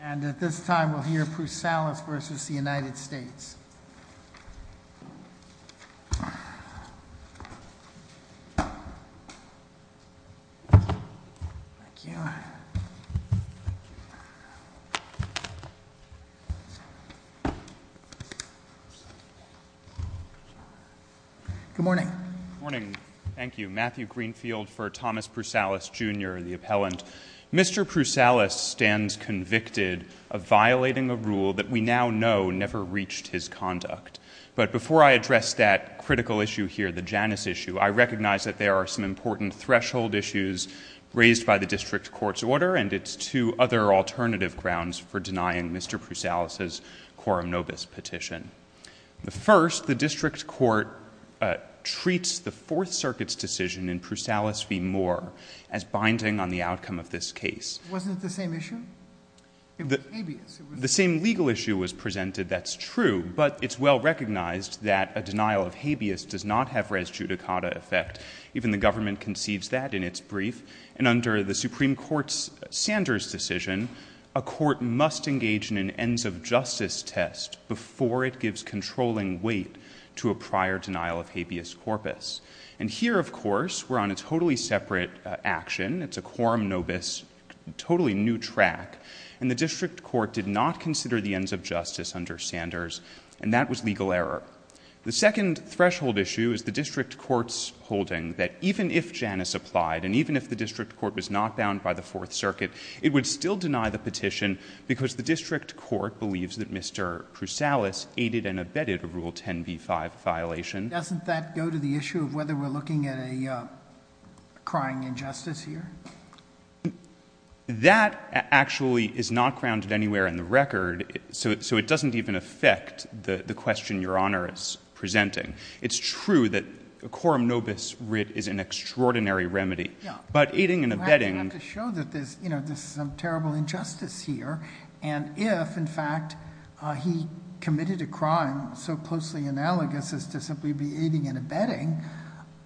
And at this time, we'll hear Prousalis v. United States. Good morning. Good morning. Thank you. Matthew Greenfield for Thomas Prousalis, Jr., the appellant. Mr. Prousalis stands convicted of violating a rule that we now know never reached his conduct. But before I address that critical issue here, the Janus issue, I recognize that there are some important threshold issues raised by the district court's order, and it's two other alternative grounds for denying Mr. Prousalis' quorum nobis petition. First, the district court treats the Fourth Circuit's decision in Prousalis v. Moore as binding on the outcome of this case. Wasn't it the same issue? It was habeas. The same legal issue was presented, that's true, but it's well recognized that a denial of habeas does not have res judicata effect. Even the government conceives that in its brief. And under the Supreme Court's Sanders decision, a court must engage in an ends of justice test before it gives controlling weight to a prior denial of habeas corpus. And here, of course, we're on a totally separate action. It's a quorum nobis, totally new track. And the district court did not consider the ends of justice under Sanders, and that was legal error. The second threshold issue is the district court's holding that even if Janus applied, and even if the district court was not bound by the Fourth Circuit, it would still deny the petition because the district court believes that Mr. Prousalis aided and abetted a Rule 10b-5 violation. Doesn't that go to the issue of whether we're looking at a crying injustice here? That actually is not grounded anywhere in the record, so it doesn't even affect the question Your Honor is presenting. It's true that a quorum nobis writ is an extraordinary remedy, but aiding and abetting... We have to show that there's some terrible injustice here, and if, in fact, he committed a crime so closely analogous as to simply be aiding and abetting,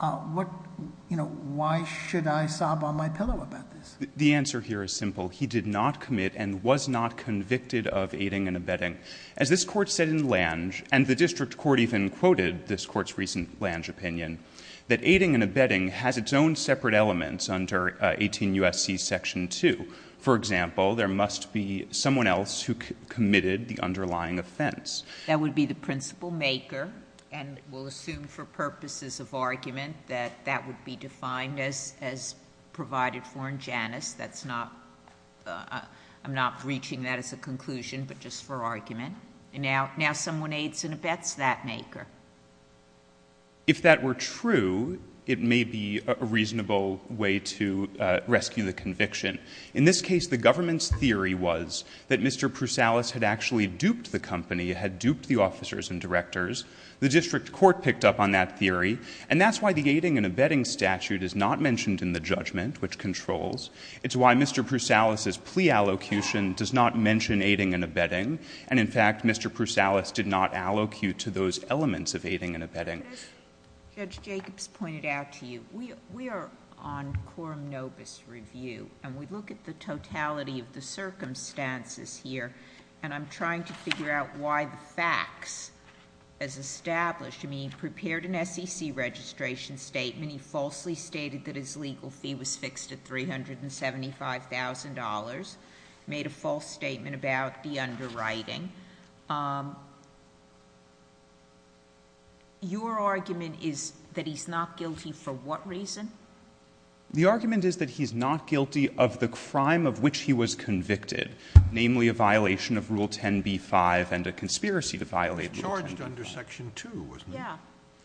why should I sob on my pillow about this? The answer here is simple. He did not commit and was not convicted of aiding and abetting. As this court said in Lange, and the district court even quoted this court's recent Lange opinion, that aiding and abetting has its own separate elements under 18 U.S.C. section 2. For example, there must be someone else who committed the underlying offense. That would be the principal maker, and we'll assume for purposes of argument that that would be defined as provided for in Janus. That's not... I'm not reaching that as a conclusion, but just for argument. And now someone aids and abets that maker. If that were true, it may be a reasonable way to rescue the conviction. In this case, the government's theory was that Mr. Prusalis had actually duped the company, had duped the officers and directors. The district court picked up on that theory, and that's why the aiding and abetting statute is not mentioned in the judgment, which controls. It's why Mr. Prusalis' plea allocution does not mention aiding and abetting. And, in fact, Mr. Prusalis did not allocute to those elements of aiding and abetting. As Judge Jacobs pointed out to you, we are on quorum nobis review, and we look at the totality of the circumstances here, and I'm trying to figure out why the facts, as established... I mean, he prepared an SEC registration statement, he falsely stated that his legal fee was fixed at $375,000, made a false statement about the underwriting. Your argument is that he's not guilty for what reason? The argument is that he's not guilty of the crime of which he was convicted, namely a violation of Rule 10b-5 and a conspiracy to violate Rule 10b-5. He was charged under Section 2, wasn't he? Yeah.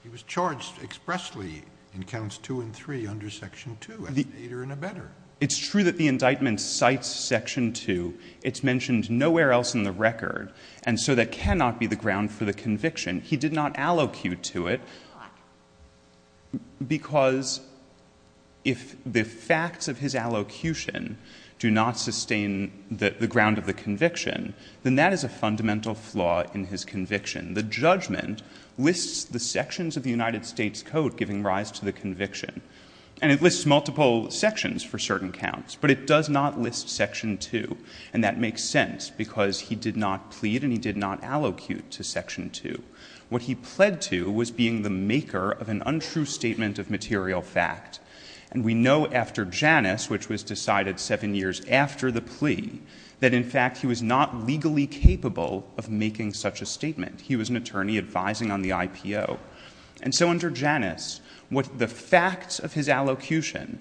He was charged expressly in Counts 2 and 3 under Section 2, as an aider and abetter. It's true that the indictment cites Section 2. It's mentioned nowhere else in the record, and so that cannot be the ground for the conviction. He did not allocute to it, because if the facts of his allocution do not sustain the ground of the conviction, then that is a fundamental flaw in his conviction. The judgment lists the sections of the United States Code giving rise to the conviction, and it lists multiple sections for certain counts, but it does not list Section 2, and that makes sense because he did not plead and he did not allocute to Section 2. What he pled to was being the maker of an untrue statement of material fact, and we know after Janus, which was decided seven years after the plea, that in fact he was not legally capable of making such a statement. He was an attorney advising on the IPO. And so under Janus, the facts of his allocution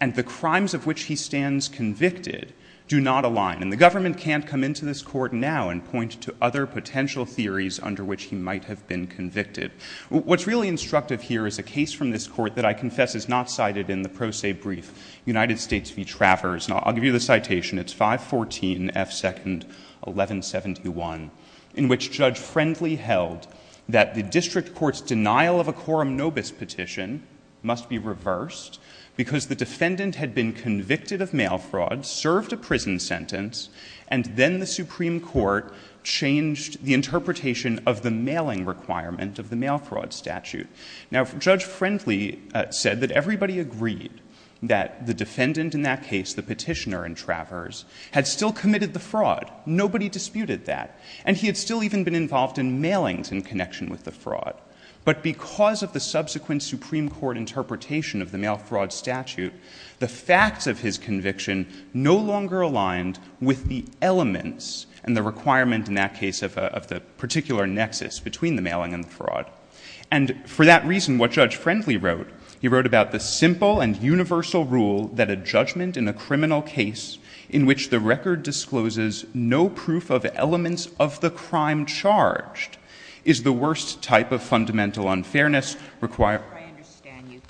and the crimes of which he stands convicted do not align, and the government can't come into this court now and point to other potential theories under which he might have been convicted. What's really instructive here is a case from this court that I confess is not cited in the pro se brief, United States v. Travers, and I'll give you the citation. It's 514 F. 2nd 1171, in which Judge Friendly held that the district court's denial of a quorum nobis petition must be reversed because the defendant had been convicted of mail fraud, served a prison sentence, and then the Supreme Court changed the interpretation of the mailing requirement of the mail fraud statute. Now, Judge Friendly said that everybody agreed that the defendant in that case, the petitioner in Travers, had still committed the fraud. Nobody disputed that. And he had still even been involved in mailings in connection with the fraud. But because of the subsequent Supreme Court interpretation of the mail fraud statute, the facts of his conviction no longer aligned with the elements and the requirement in that case of the particular nexus between the mailing and the fraud. And for that reason, what Judge Friendly wrote, he wrote about the simple and universal rule that a judgment in a criminal case in which the record discloses no proof of elements of the crime charged is the worst type of fundamental unfairness required. I understand you.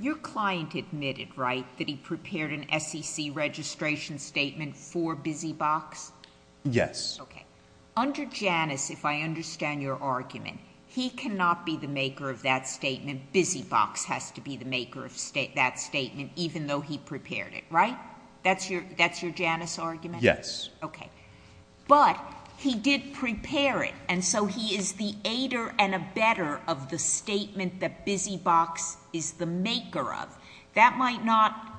Your client admitted, right, that he prepared an SEC registration statement for Busy Box? Yes. Okay. Under Janus, if I understand your argument, he cannot be the maker of that statement. Busy Box has to be the maker of that statement even though he prepared it, right? That's your Janus argument? Yes. Okay. But he did prepare it, and so he is the aider and abetter of the statement that Busy Box is the maker of. That might not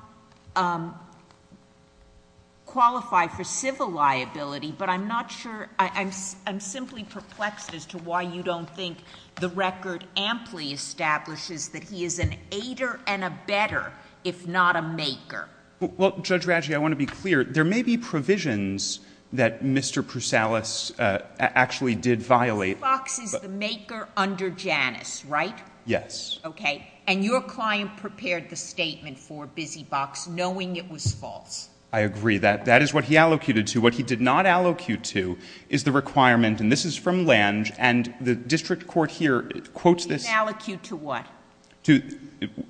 qualify for civil liability, but I'm not sure... I'm simply perplexed as to why you don't think the record amply establishes that he is an aider and abetter if not a maker. Well, Judge Radji, I want to be clear. There may be provisions that Mr. Prusalis actually did violate... He was the maker under Janus, right? Yes. Okay. And your client prepared the statement for Busy Box knowing it was false. I agree. That is what he allocated to. What he did not allocate to is the requirement, and this is from Lange, and the district court here quotes this... He didn't allocate to what?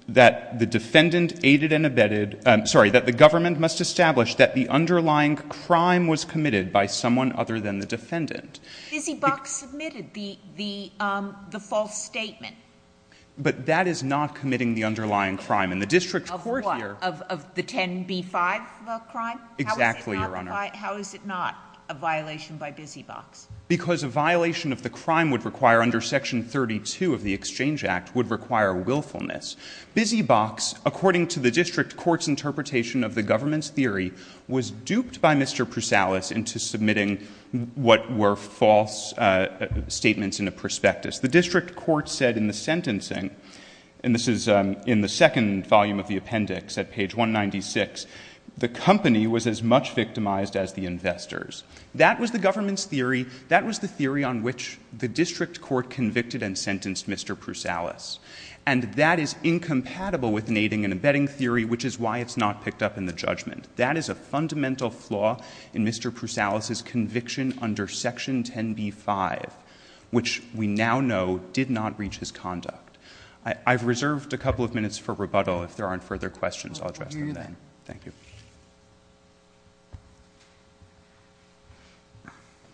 That the defendant aided and abetted... Sorry, that the government must establish that the underlying crime was committed by someone other than the defendant. Busy Box submitted the false statement. But that is not committing the underlying crime, and the district court here... Of what? Of the 10b-5 crime? Exactly, Your Honor. How is it not a violation by Busy Box? Because a violation of the crime would require, under Section 32 of the Exchange Act, would require willfulness. Busy Box, according to the district court's interpretation of the government's theory, was duped by Mr. Prusalis into submitting what were false statements in a prospectus. The district court said in the sentencing, and this is in the second volume of the appendix, at page 196, the company was as much victimized as the investors. That was the government's theory. That was the theory on which the district court convicted and sentenced Mr. Prusalis. And that is incompatible with aiding and abetting theory, which is why it's not picked up in the judgment. That is a fundamental flaw in Mr. Prusalis's conviction under Section 10b-5, which we now know did not reach his conduct. I've reserved a couple of minutes for rebuttal if there aren't further questions. I'll address them then. Thank you.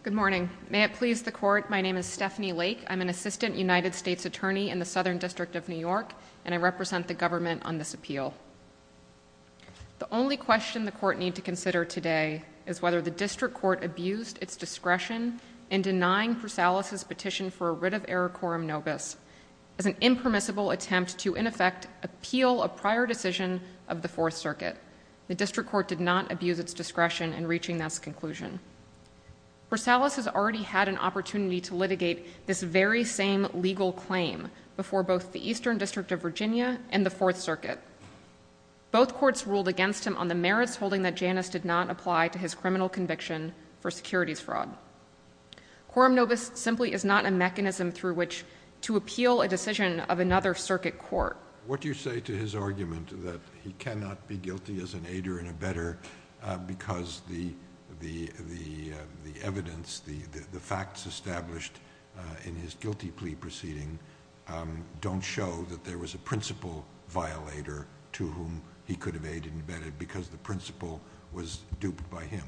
Good morning. May it please the Court, my name is Stephanie Lake. I'm an assistant United States attorney in the Southern District of New York, and I represent the government on this appeal. The only question the Court need to consider today is whether the district court abused its discretion in denying Prusalis's petition for a writ of error quorum nobis as an impermissible attempt to, in effect, appeal a prior decision of the Fourth Circuit. The district court did not abuse its discretion in reaching this conclusion. Prusalis has already had an opportunity to litigate this very same legal claim before both the Eastern District of Virginia and the Fourth Circuit. Both courts ruled against him on the merits holding that Janus did not apply to his criminal conviction for securities fraud. Quorum nobis simply is not a mechanism through which to appeal a decision of another circuit court. What do you say to his argument that he cannot be guilty as an aider and a better because the evidence, the facts established in his guilty plea proceeding don't show that there was a principal violator to whom he could have aided and abetted because the principal was duped by him?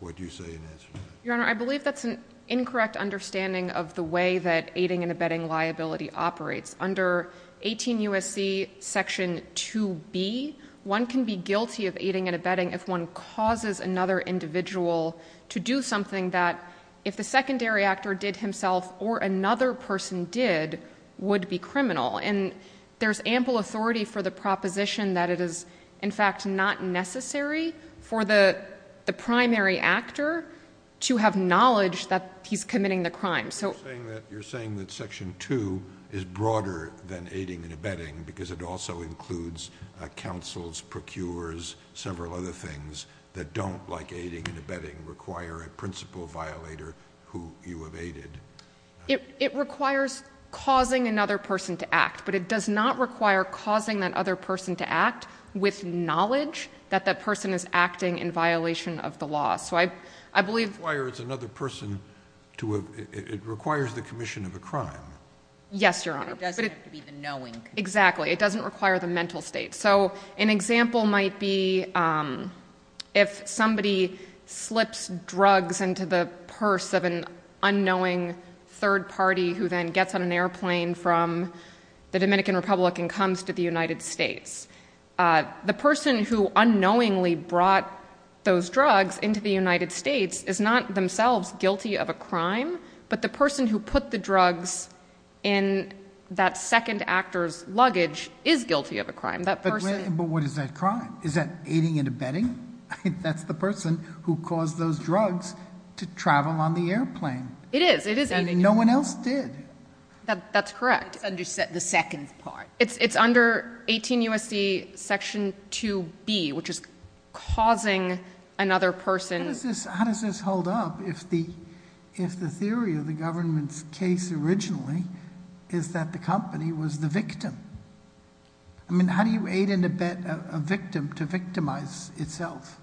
What do you say in answer to that? Your Honor, I believe that's an incorrect understanding of the way that aiding and abetting liability operates. Under 18 U.S.C. section 2B, one can be guilty of aiding and abetting if one causes another individual to do something that if the secondary actor did himself or another person did, would be criminal. And there's ample authority for the proposition that it is, in fact, not necessary for the primary actor to have knowledge that he's committing the crime. You're saying that section 2 is broader than aiding and abetting because it also includes counsels, procurers, several other things that don't, like aiding and abetting, require a principal violator who you have aided. It requires causing another person to act, but it does not require causing that other person to act with knowledge that that person is acting in violation of the law. So I believe... It requires another person to... It requires the commission of a crime. Yes, Your Honor. It doesn't have to be the knowing. Exactly. It doesn't require the mental state. So an example might be if somebody slips drugs into the purse of an unknowing third party who then gets on an airplane from the Dominican Republic and comes to the United States. The person who unknowingly brought those drugs into the United States is not themselves guilty of a crime, but the person who put the drugs in that second actor's luggage is guilty of a crime. But what is that crime? Is that aiding and abetting? That's the person who caused those drugs to travel on the airplane. It is. And no one else did. That's correct. It's under the second part. It's under 18 U.S.C. Section 2B, which is causing another person... How does this hold up if the theory of the government's case originally is that the company was the victim? I mean, how do you aid and abet a victim to victimize itself?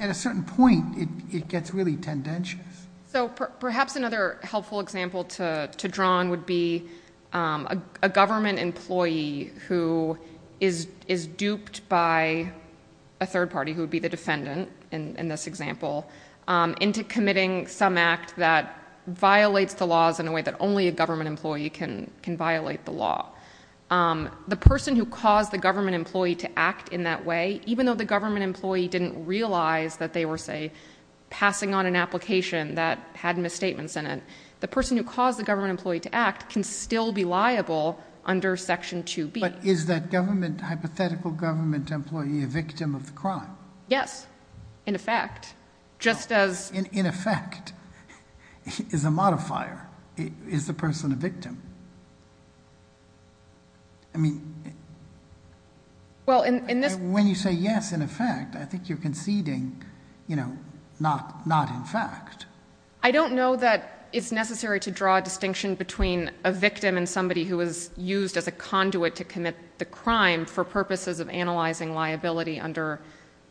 At a certain point, it gets really tendentious. So perhaps another helpful example to draw on would be a government employee who is duped by a third party, who would be the defendant in this example, into committing some act that violates the laws in a way that only a government employee can violate the law. The person who caused the government employee to act in that way, even though the government employee didn't realize that they were, say, passing on an application that had misstatements in it, the person who caused the government employee to act can still be liable under Section 2B. But is that hypothetical government employee a victim of the crime? Yes, in effect, just as... Is the person a victim? I mean... Well, in this... When you say, yes, in effect, I think you're conceding, you know, not in fact. I don't know that it's necessary to draw a distinction between a victim and somebody who was used as a conduit to commit the crime for purposes of analyzing liability under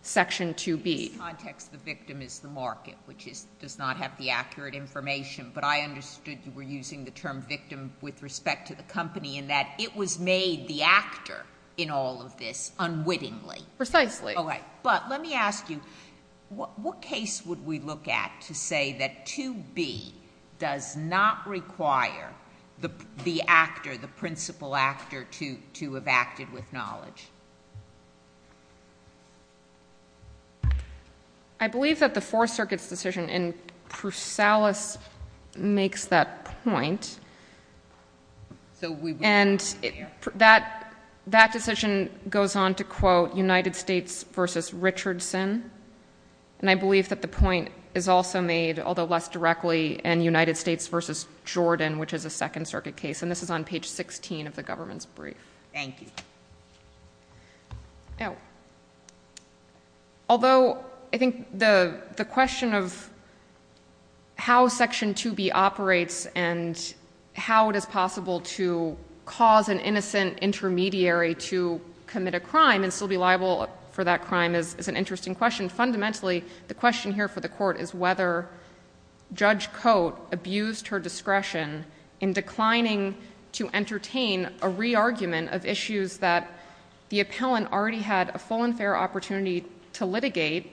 Section 2B. In this context, the victim is the market, which does not have the accurate information. But I understood you were using the term victim with respect to the company in that it was made the actor in all of this unwittingly. Precisely. But let me ask you, what case would we look at to say that 2B does not require the actor, the principal actor, to have acted with knowledge? I believe that the Fourth Circuit's decision and Prusalis makes that point. So we... And that decision goes on to quote United States v. Richardson. And I believe that the point is also made, although less directly, in United States v. Jordan, which is a Second Circuit case. And this is on page 16 of the government's brief. Thank you. Now... Although I think the question of how Section 2B operates and how it is possible to cause an innocent intermediary to commit a crime and still be liable for that crime is an interesting question. Fundamentally, the question here for the Court is whether Judge Cote abused her discretion in declining to entertain a re-argument of issues that the appellant already had a full and fair opportunity to litigate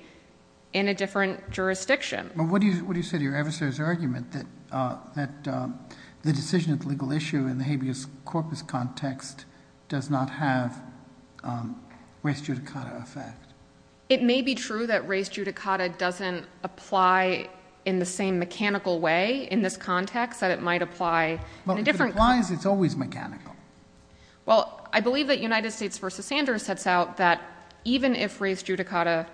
in a different jurisdiction. But what do you say to your adversary's argument that the decision of the legal issue in the habeas corpus context does not have race judicata effect? It may be true that race judicata doesn't apply in the same mechanical way in this context, that it might apply in a different... But if it applies, it's always mechanical. Well, I believe that United States v. Sanders sets out that even if race judicata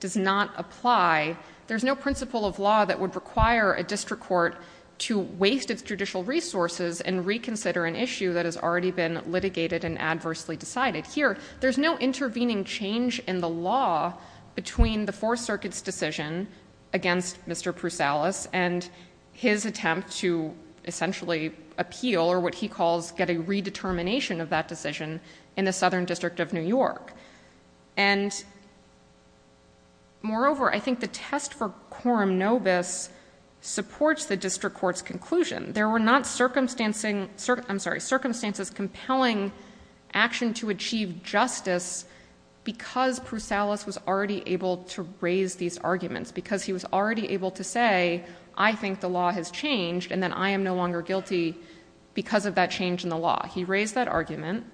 does not apply, there's no principle of law that would require a district court to waste its judicial resources and reconsider an issue that has already been litigated and adversely decided. Here, there's no intervening change in the law between the Fourth Circuit's decision against Mr. Prusalis and his attempt to essentially appeal, or what he calls get a redetermination of that decision, in the Southern District of New York. And moreover, I think the test for quorum nobis supports the district court's conclusion. There were not circumstances compelling action to achieve justice because Prusalis was already able to raise these arguments, because he was already able to say, I think the law has changed, and then I am no longer guilty because of that change in the law. He raised that argument.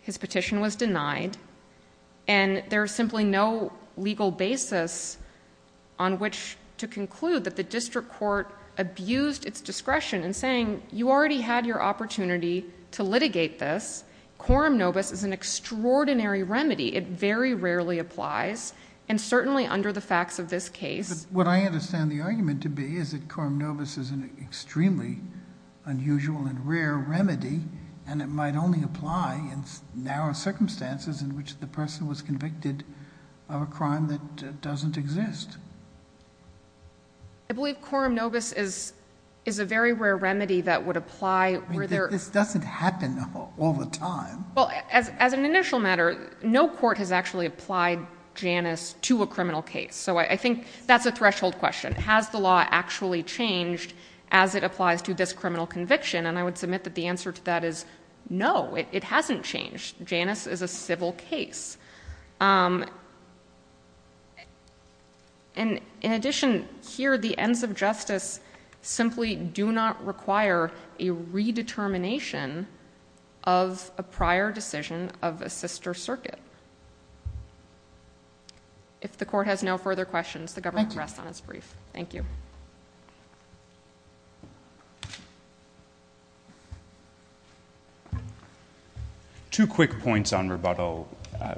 His petition was denied. And there's simply no legal basis on which to conclude that the district court abused its discretion in saying you already had your opportunity to litigate this. Quorum nobis is an extraordinary remedy. It very rarely applies, and certainly under the facts of this case. But what I understand the argument to be is that quorum nobis is an extremely unusual and rare remedy, and it might only apply in narrow circumstances in which the person was convicted of a crime that doesn't exist. I believe quorum nobis is a very rare remedy that would apply where there... I mean, this doesn't happen all the time. Well, as an initial matter, no court has actually applied Janus to a criminal case. So I think that's a threshold question. Has the law actually changed as it applies to this criminal conviction? And I would submit that the answer to that is no, it hasn't changed. Janus is a civil case. And in addition, here the ends of justice simply do not require a redetermination of a prior decision of a sister circuit. If the court has no further questions, the government rests on its brief. Thank you. Two quick points on rebuttal.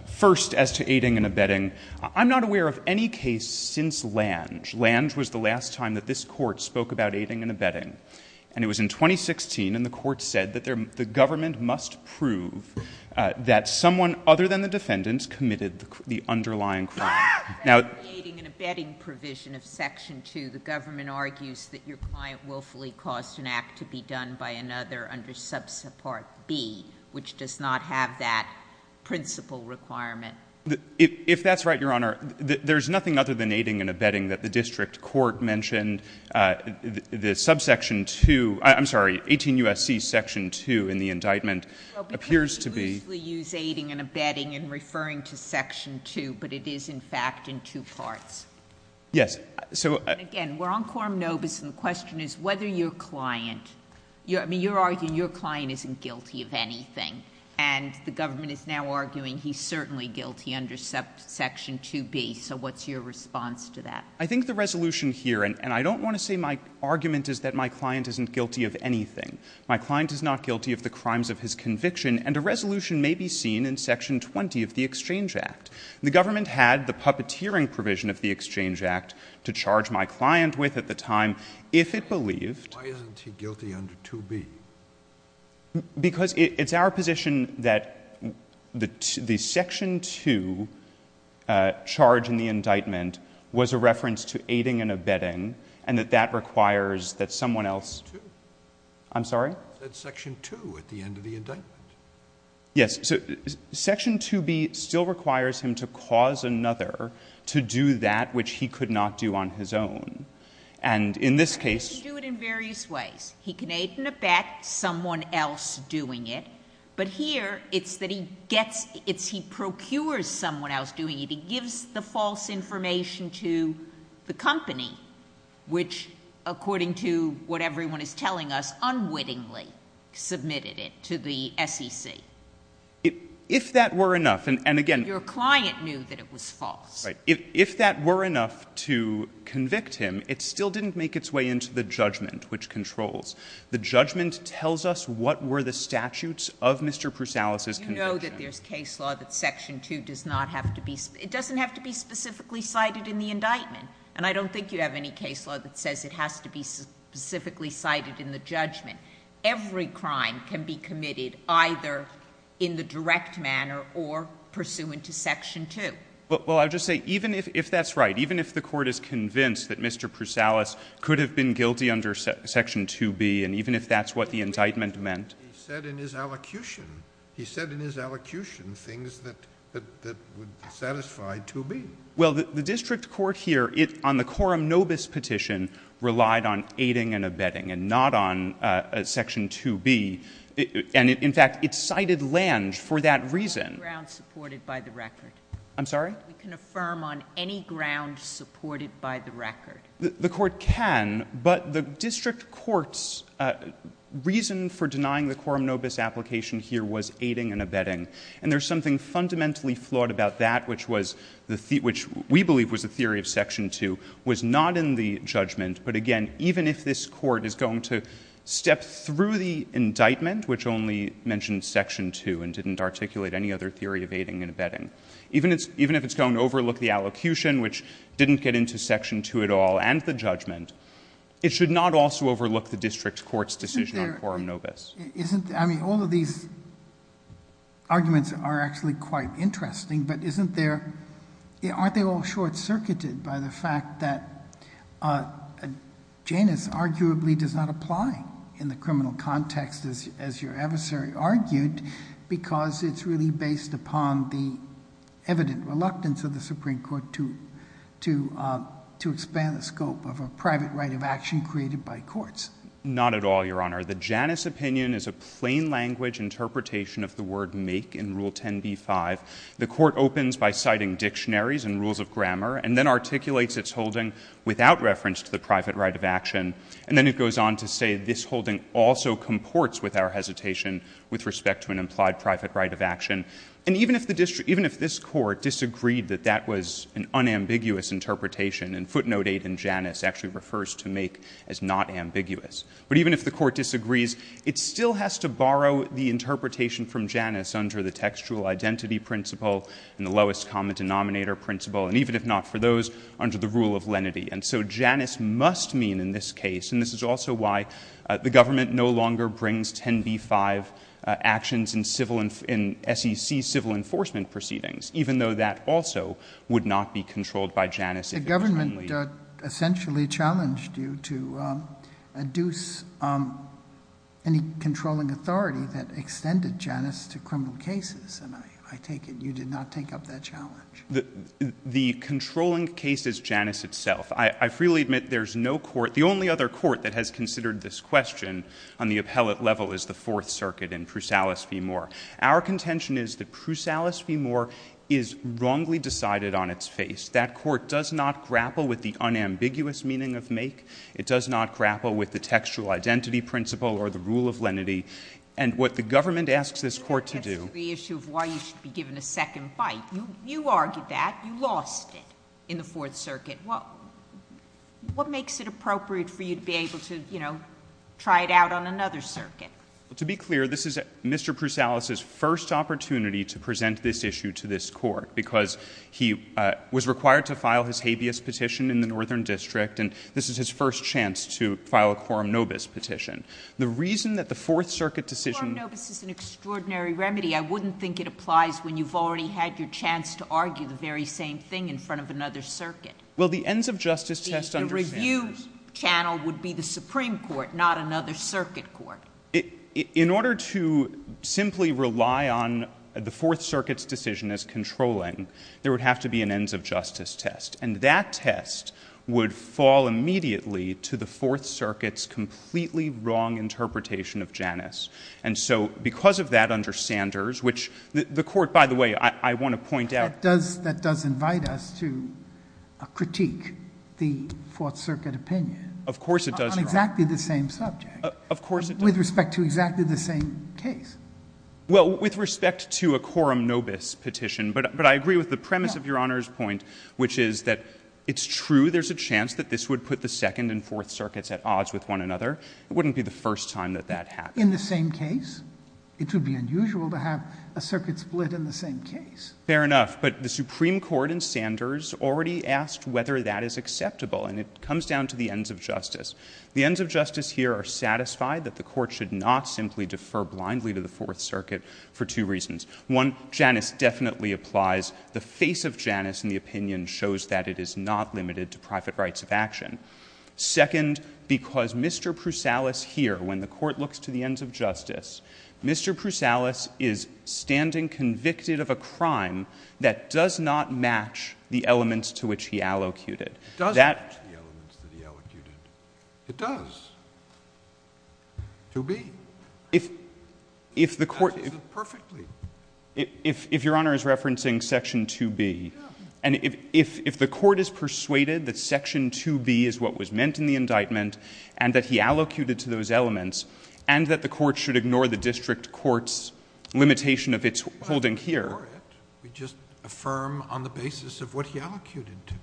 First, as to aiding and abetting, I'm not aware of any case since Lange. Lange was the last time that this court spoke about aiding and abetting. And it was in 2016, and the court said that the government must prove that someone other than the defendant committed the underlying crime. Now... In the aiding and abetting provision of Section 2, the government argues that your client willfully caused an act to be done by another under Subsupport B, which does not have that principal requirement. If that's right, Your Honor, there's nothing other than aiding and abetting that the district court mentioned. The subsection 2... I'm sorry, 18 U.S.C. Section 2 in the indictment appears to be... Well, because we usually use aiding and abetting in referring to Section 2, but it is, in fact, in two parts. Yes. So... Again, we're on quorum nobis, and the question is whether your client... I mean, you're arguing your client isn't guilty of anything. And the government is now arguing he's certainly guilty under Section 2B. So what's your response to that? I think the resolution here... And I don't want to say my argument is that my client isn't guilty of anything. My client is not guilty of the crimes of his conviction, and a resolution may be seen in Section 20 of the Exchange Act. The government had the puppeteering provision of the Exchange Act to charge my client with at the time, if it believed... Why isn't he guilty under 2B? Because it's our position that the Section 2 charge in the indictment was a reference to aiding and abetting, and that that requires that someone else... Section 2. I'm sorry? That's Section 2 at the end of the indictment. Yes. So Section 2B still requires him to cause another to do that which he could not do on his own. And in this case... He can do it in various ways. He can aid and abet someone else doing it, but here it's that he gets... It's he procures someone else doing it. He gives the false information to the company, which, according to what everyone is telling us, unwittingly submitted it to the SEC. If that were enough, and again... Your client knew that it was false. Right. If that were enough to convict him, it still didn't make its way into the judgment, which controls. The judgment tells us what were the statutes of Mr. Prusalis' conviction. You know that there's case law that Section 2 does not have to be... It doesn't have to be specifically cited in the indictment, and I don't think you have any case law that says it has to be specifically cited in the judgment. Every crime can be committed either in the direct manner or pursuant to Section 2. Well, I'll just say, even if that's right, even if the Court is convinced that Mr. Prusalis could have been guilty under Section 2B, and even if that's what the indictment meant... He said in his allocution... He said in his allocution things that would satisfy 2B. Well, the district court here, on the Coram nobis petition, relied on aiding and abetting and not on Section 2B, and in fact, it cited Lange for that reason. ...ground supported by the record. I'm sorry? We can affirm on any ground supported by the record. The Court can, but the district court's reason for denying the Coram nobis application here was aiding and abetting, and there's something fundamentally flawed about that, which we believe was the theory of Section 2, was not in the judgment, but again, even if this Court is going to step through the indictment, which only mentioned Section 2 and didn't articulate any other theory of aiding and abetting, even if it's going to overlook the allocution, which didn't get into Section 2 at all, and the judgment, it should not also overlook the district court's decision on Coram nobis. Isn't there... I mean, all of these arguments are actually quite interesting, but aren't they all short-circuited by the fact that Janus arguably does not apply in the criminal context, as your adversary argued, because it's really based upon the evident reluctance of the Supreme Court to expand the scope of a private right of action created by courts? Not at all, Your Honor. The Janus opinion is a plain language interpretation of the word make in Rule 10b-5. The Court opens by citing dictionaries and rules of grammar, and then articulates its holding without reference to the private right of action, and then it goes on to say this holding also comports with our hesitation with respect to an implied private right of action. And even if this Court disagreed that that was an unambiguous interpretation, and footnote 8 in Janus actually refers to make as not ambiguous, but even if the Court disagrees, it still has to borrow the interpretation from Janus under the textual identity principle and the lowest common denominator principle, and even if not for those, under the rule of lenity. And so Janus must mean in this case, and this is also why the government no longer brings 10b-5 actions in SEC civil enforcement proceedings, even though that also would not be controlled by Janus. The government essentially challenged you to adduce any controlling authority that extended Janus to criminal cases, and I take it you did not take up that challenge. The controlling case is Janus itself. I freely admit there's no court, the only other court that has considered this question on the appellate level is the Fourth Circuit in Prusalis v. Moore. Our contention is that Prusalis v. Moore is wrongly decided on its face. That court does not grapple with the unambiguous meaning of make. It does not grapple with the textual identity principle or the rule of lenity. And what the government asks this Court to do... That's the issue of why you should be given a second bite. You argued that. You lost it in the Fourth Circuit. What makes it appropriate for you to be able to, you know, try it out on another circuit? To be clear, this is Mr. Prusalis' first opportunity to present this issue to this Court because he was required to file his habeas petition in the Northern District, and this is his first chance to file a quorum nobis petition. The reason that the Fourth Circuit decision... Quorum nobis is an extraordinary remedy. I wouldn't think it applies when you've already had your chance to argue the very same thing in front of another circuit. Well, the ends-of-justice test... The review channel would be the Supreme Court, not another circuit court. In order to simply rely on the Fourth Circuit's decision as controlling, there would have to be an ends-of-justice test, and that test would fall immediately to the Fourth Circuit's completely wrong interpretation of Janus. And so because of that under Sanders, which the Court, by the way, I want to point out... That does invite us to critique the Fourth Circuit opinion... Of course it does. ...on exactly the same subject... Of course it does. ...with respect to exactly the same case. Well, with respect to a quorum nobis petition, but I agree with the premise of Your Honor's point, which is that it's true there's a chance that this would put the Second and Fourth Circuits at odds with one another. It wouldn't be the first time that that happened. In the same case, it would be unusual to have a circuit split in the same case. Fair enough. But the Supreme Court in Sanders already asked whether that is acceptable, and it comes down to the ends-of-justice. The ends-of-justice here are satisfied that the Court should not simply defer blindly to the Fourth Circuit for two reasons. One, Janus definitely applies. The face of Janus in the opinion shows that it is not limited to private rights of action. Second, because Mr. Prusalis here, when the Court looks to the ends-of-justice, Mr. Prusalis is standing convicted of a crime that does not match the elements to which he allocated. It does match the elements that he allocated. It does. 2B. If the Court... It matches it perfectly. If Your Honor is referencing Section 2B, and if the Court is persuaded that Section 2B is what was meant in the indictment and that he allocated to those elements and that the Court should ignore the district court's limitation of its holding here... We just affirm on the basis of what he allocated to.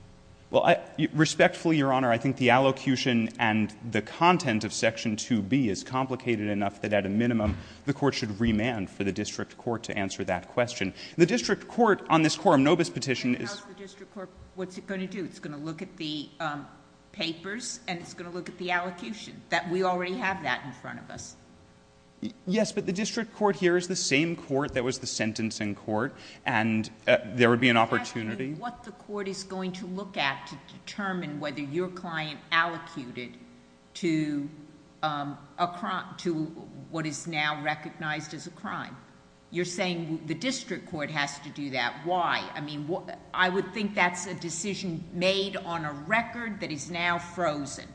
Well, respectfully, Your Honor, I think the allocution and the content of Section 2B is complicated enough that at a minimum the Court should remand for the district court to answer that question. The district court, on this quorum nobis petition, is... What's it going to do? It's going to look at the papers and it's going to look at the allocution. We already have that in front of us. Yes, but the district court here is the same court that was the sentencing court and there would be an opportunity... What the court is going to look at to determine whether your client allocated to what is now recognized as a crime. You're saying the district court has to do that. Why? I would think that's a decision made on a record that is now frozen.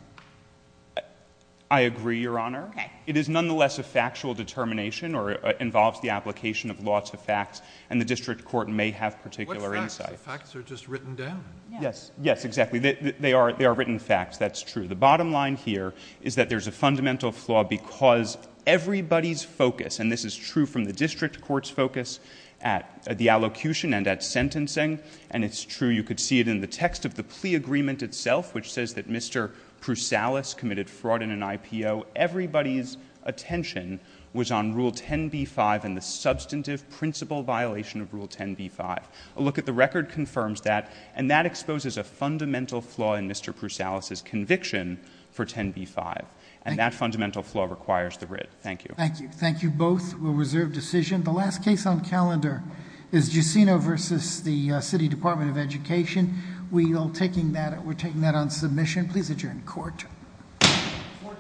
I agree, Your Honor. It is nonetheless a factual determination or involves the application of law to facts and the district court may have particular insights. What facts? The facts are just written down. Yes, exactly. They are written facts. That's true. The bottom line here is that there's a fundamental flaw because everybody's focus, and this is true from the district court's focus at the allocution and at sentencing and it's true, you could see it in the text of the plea agreement itself which says that Mr. Prusalis committed fraud in an IPO. Everybody's attention was on Rule 10b-5 and the substantive principle violation of Rule 10b-5. A look at the record confirms that and that exposes a fundamental flaw in Mr. Prusalis' conviction for 10b-5 and that fundamental flaw requires the writ. Thank you. Thank you. Thank you both. We'll reserve decision. The last case on calendar is Jusino versus the City Department of Education. We're taking that on submission. Please adjourn court. Court is adjourned.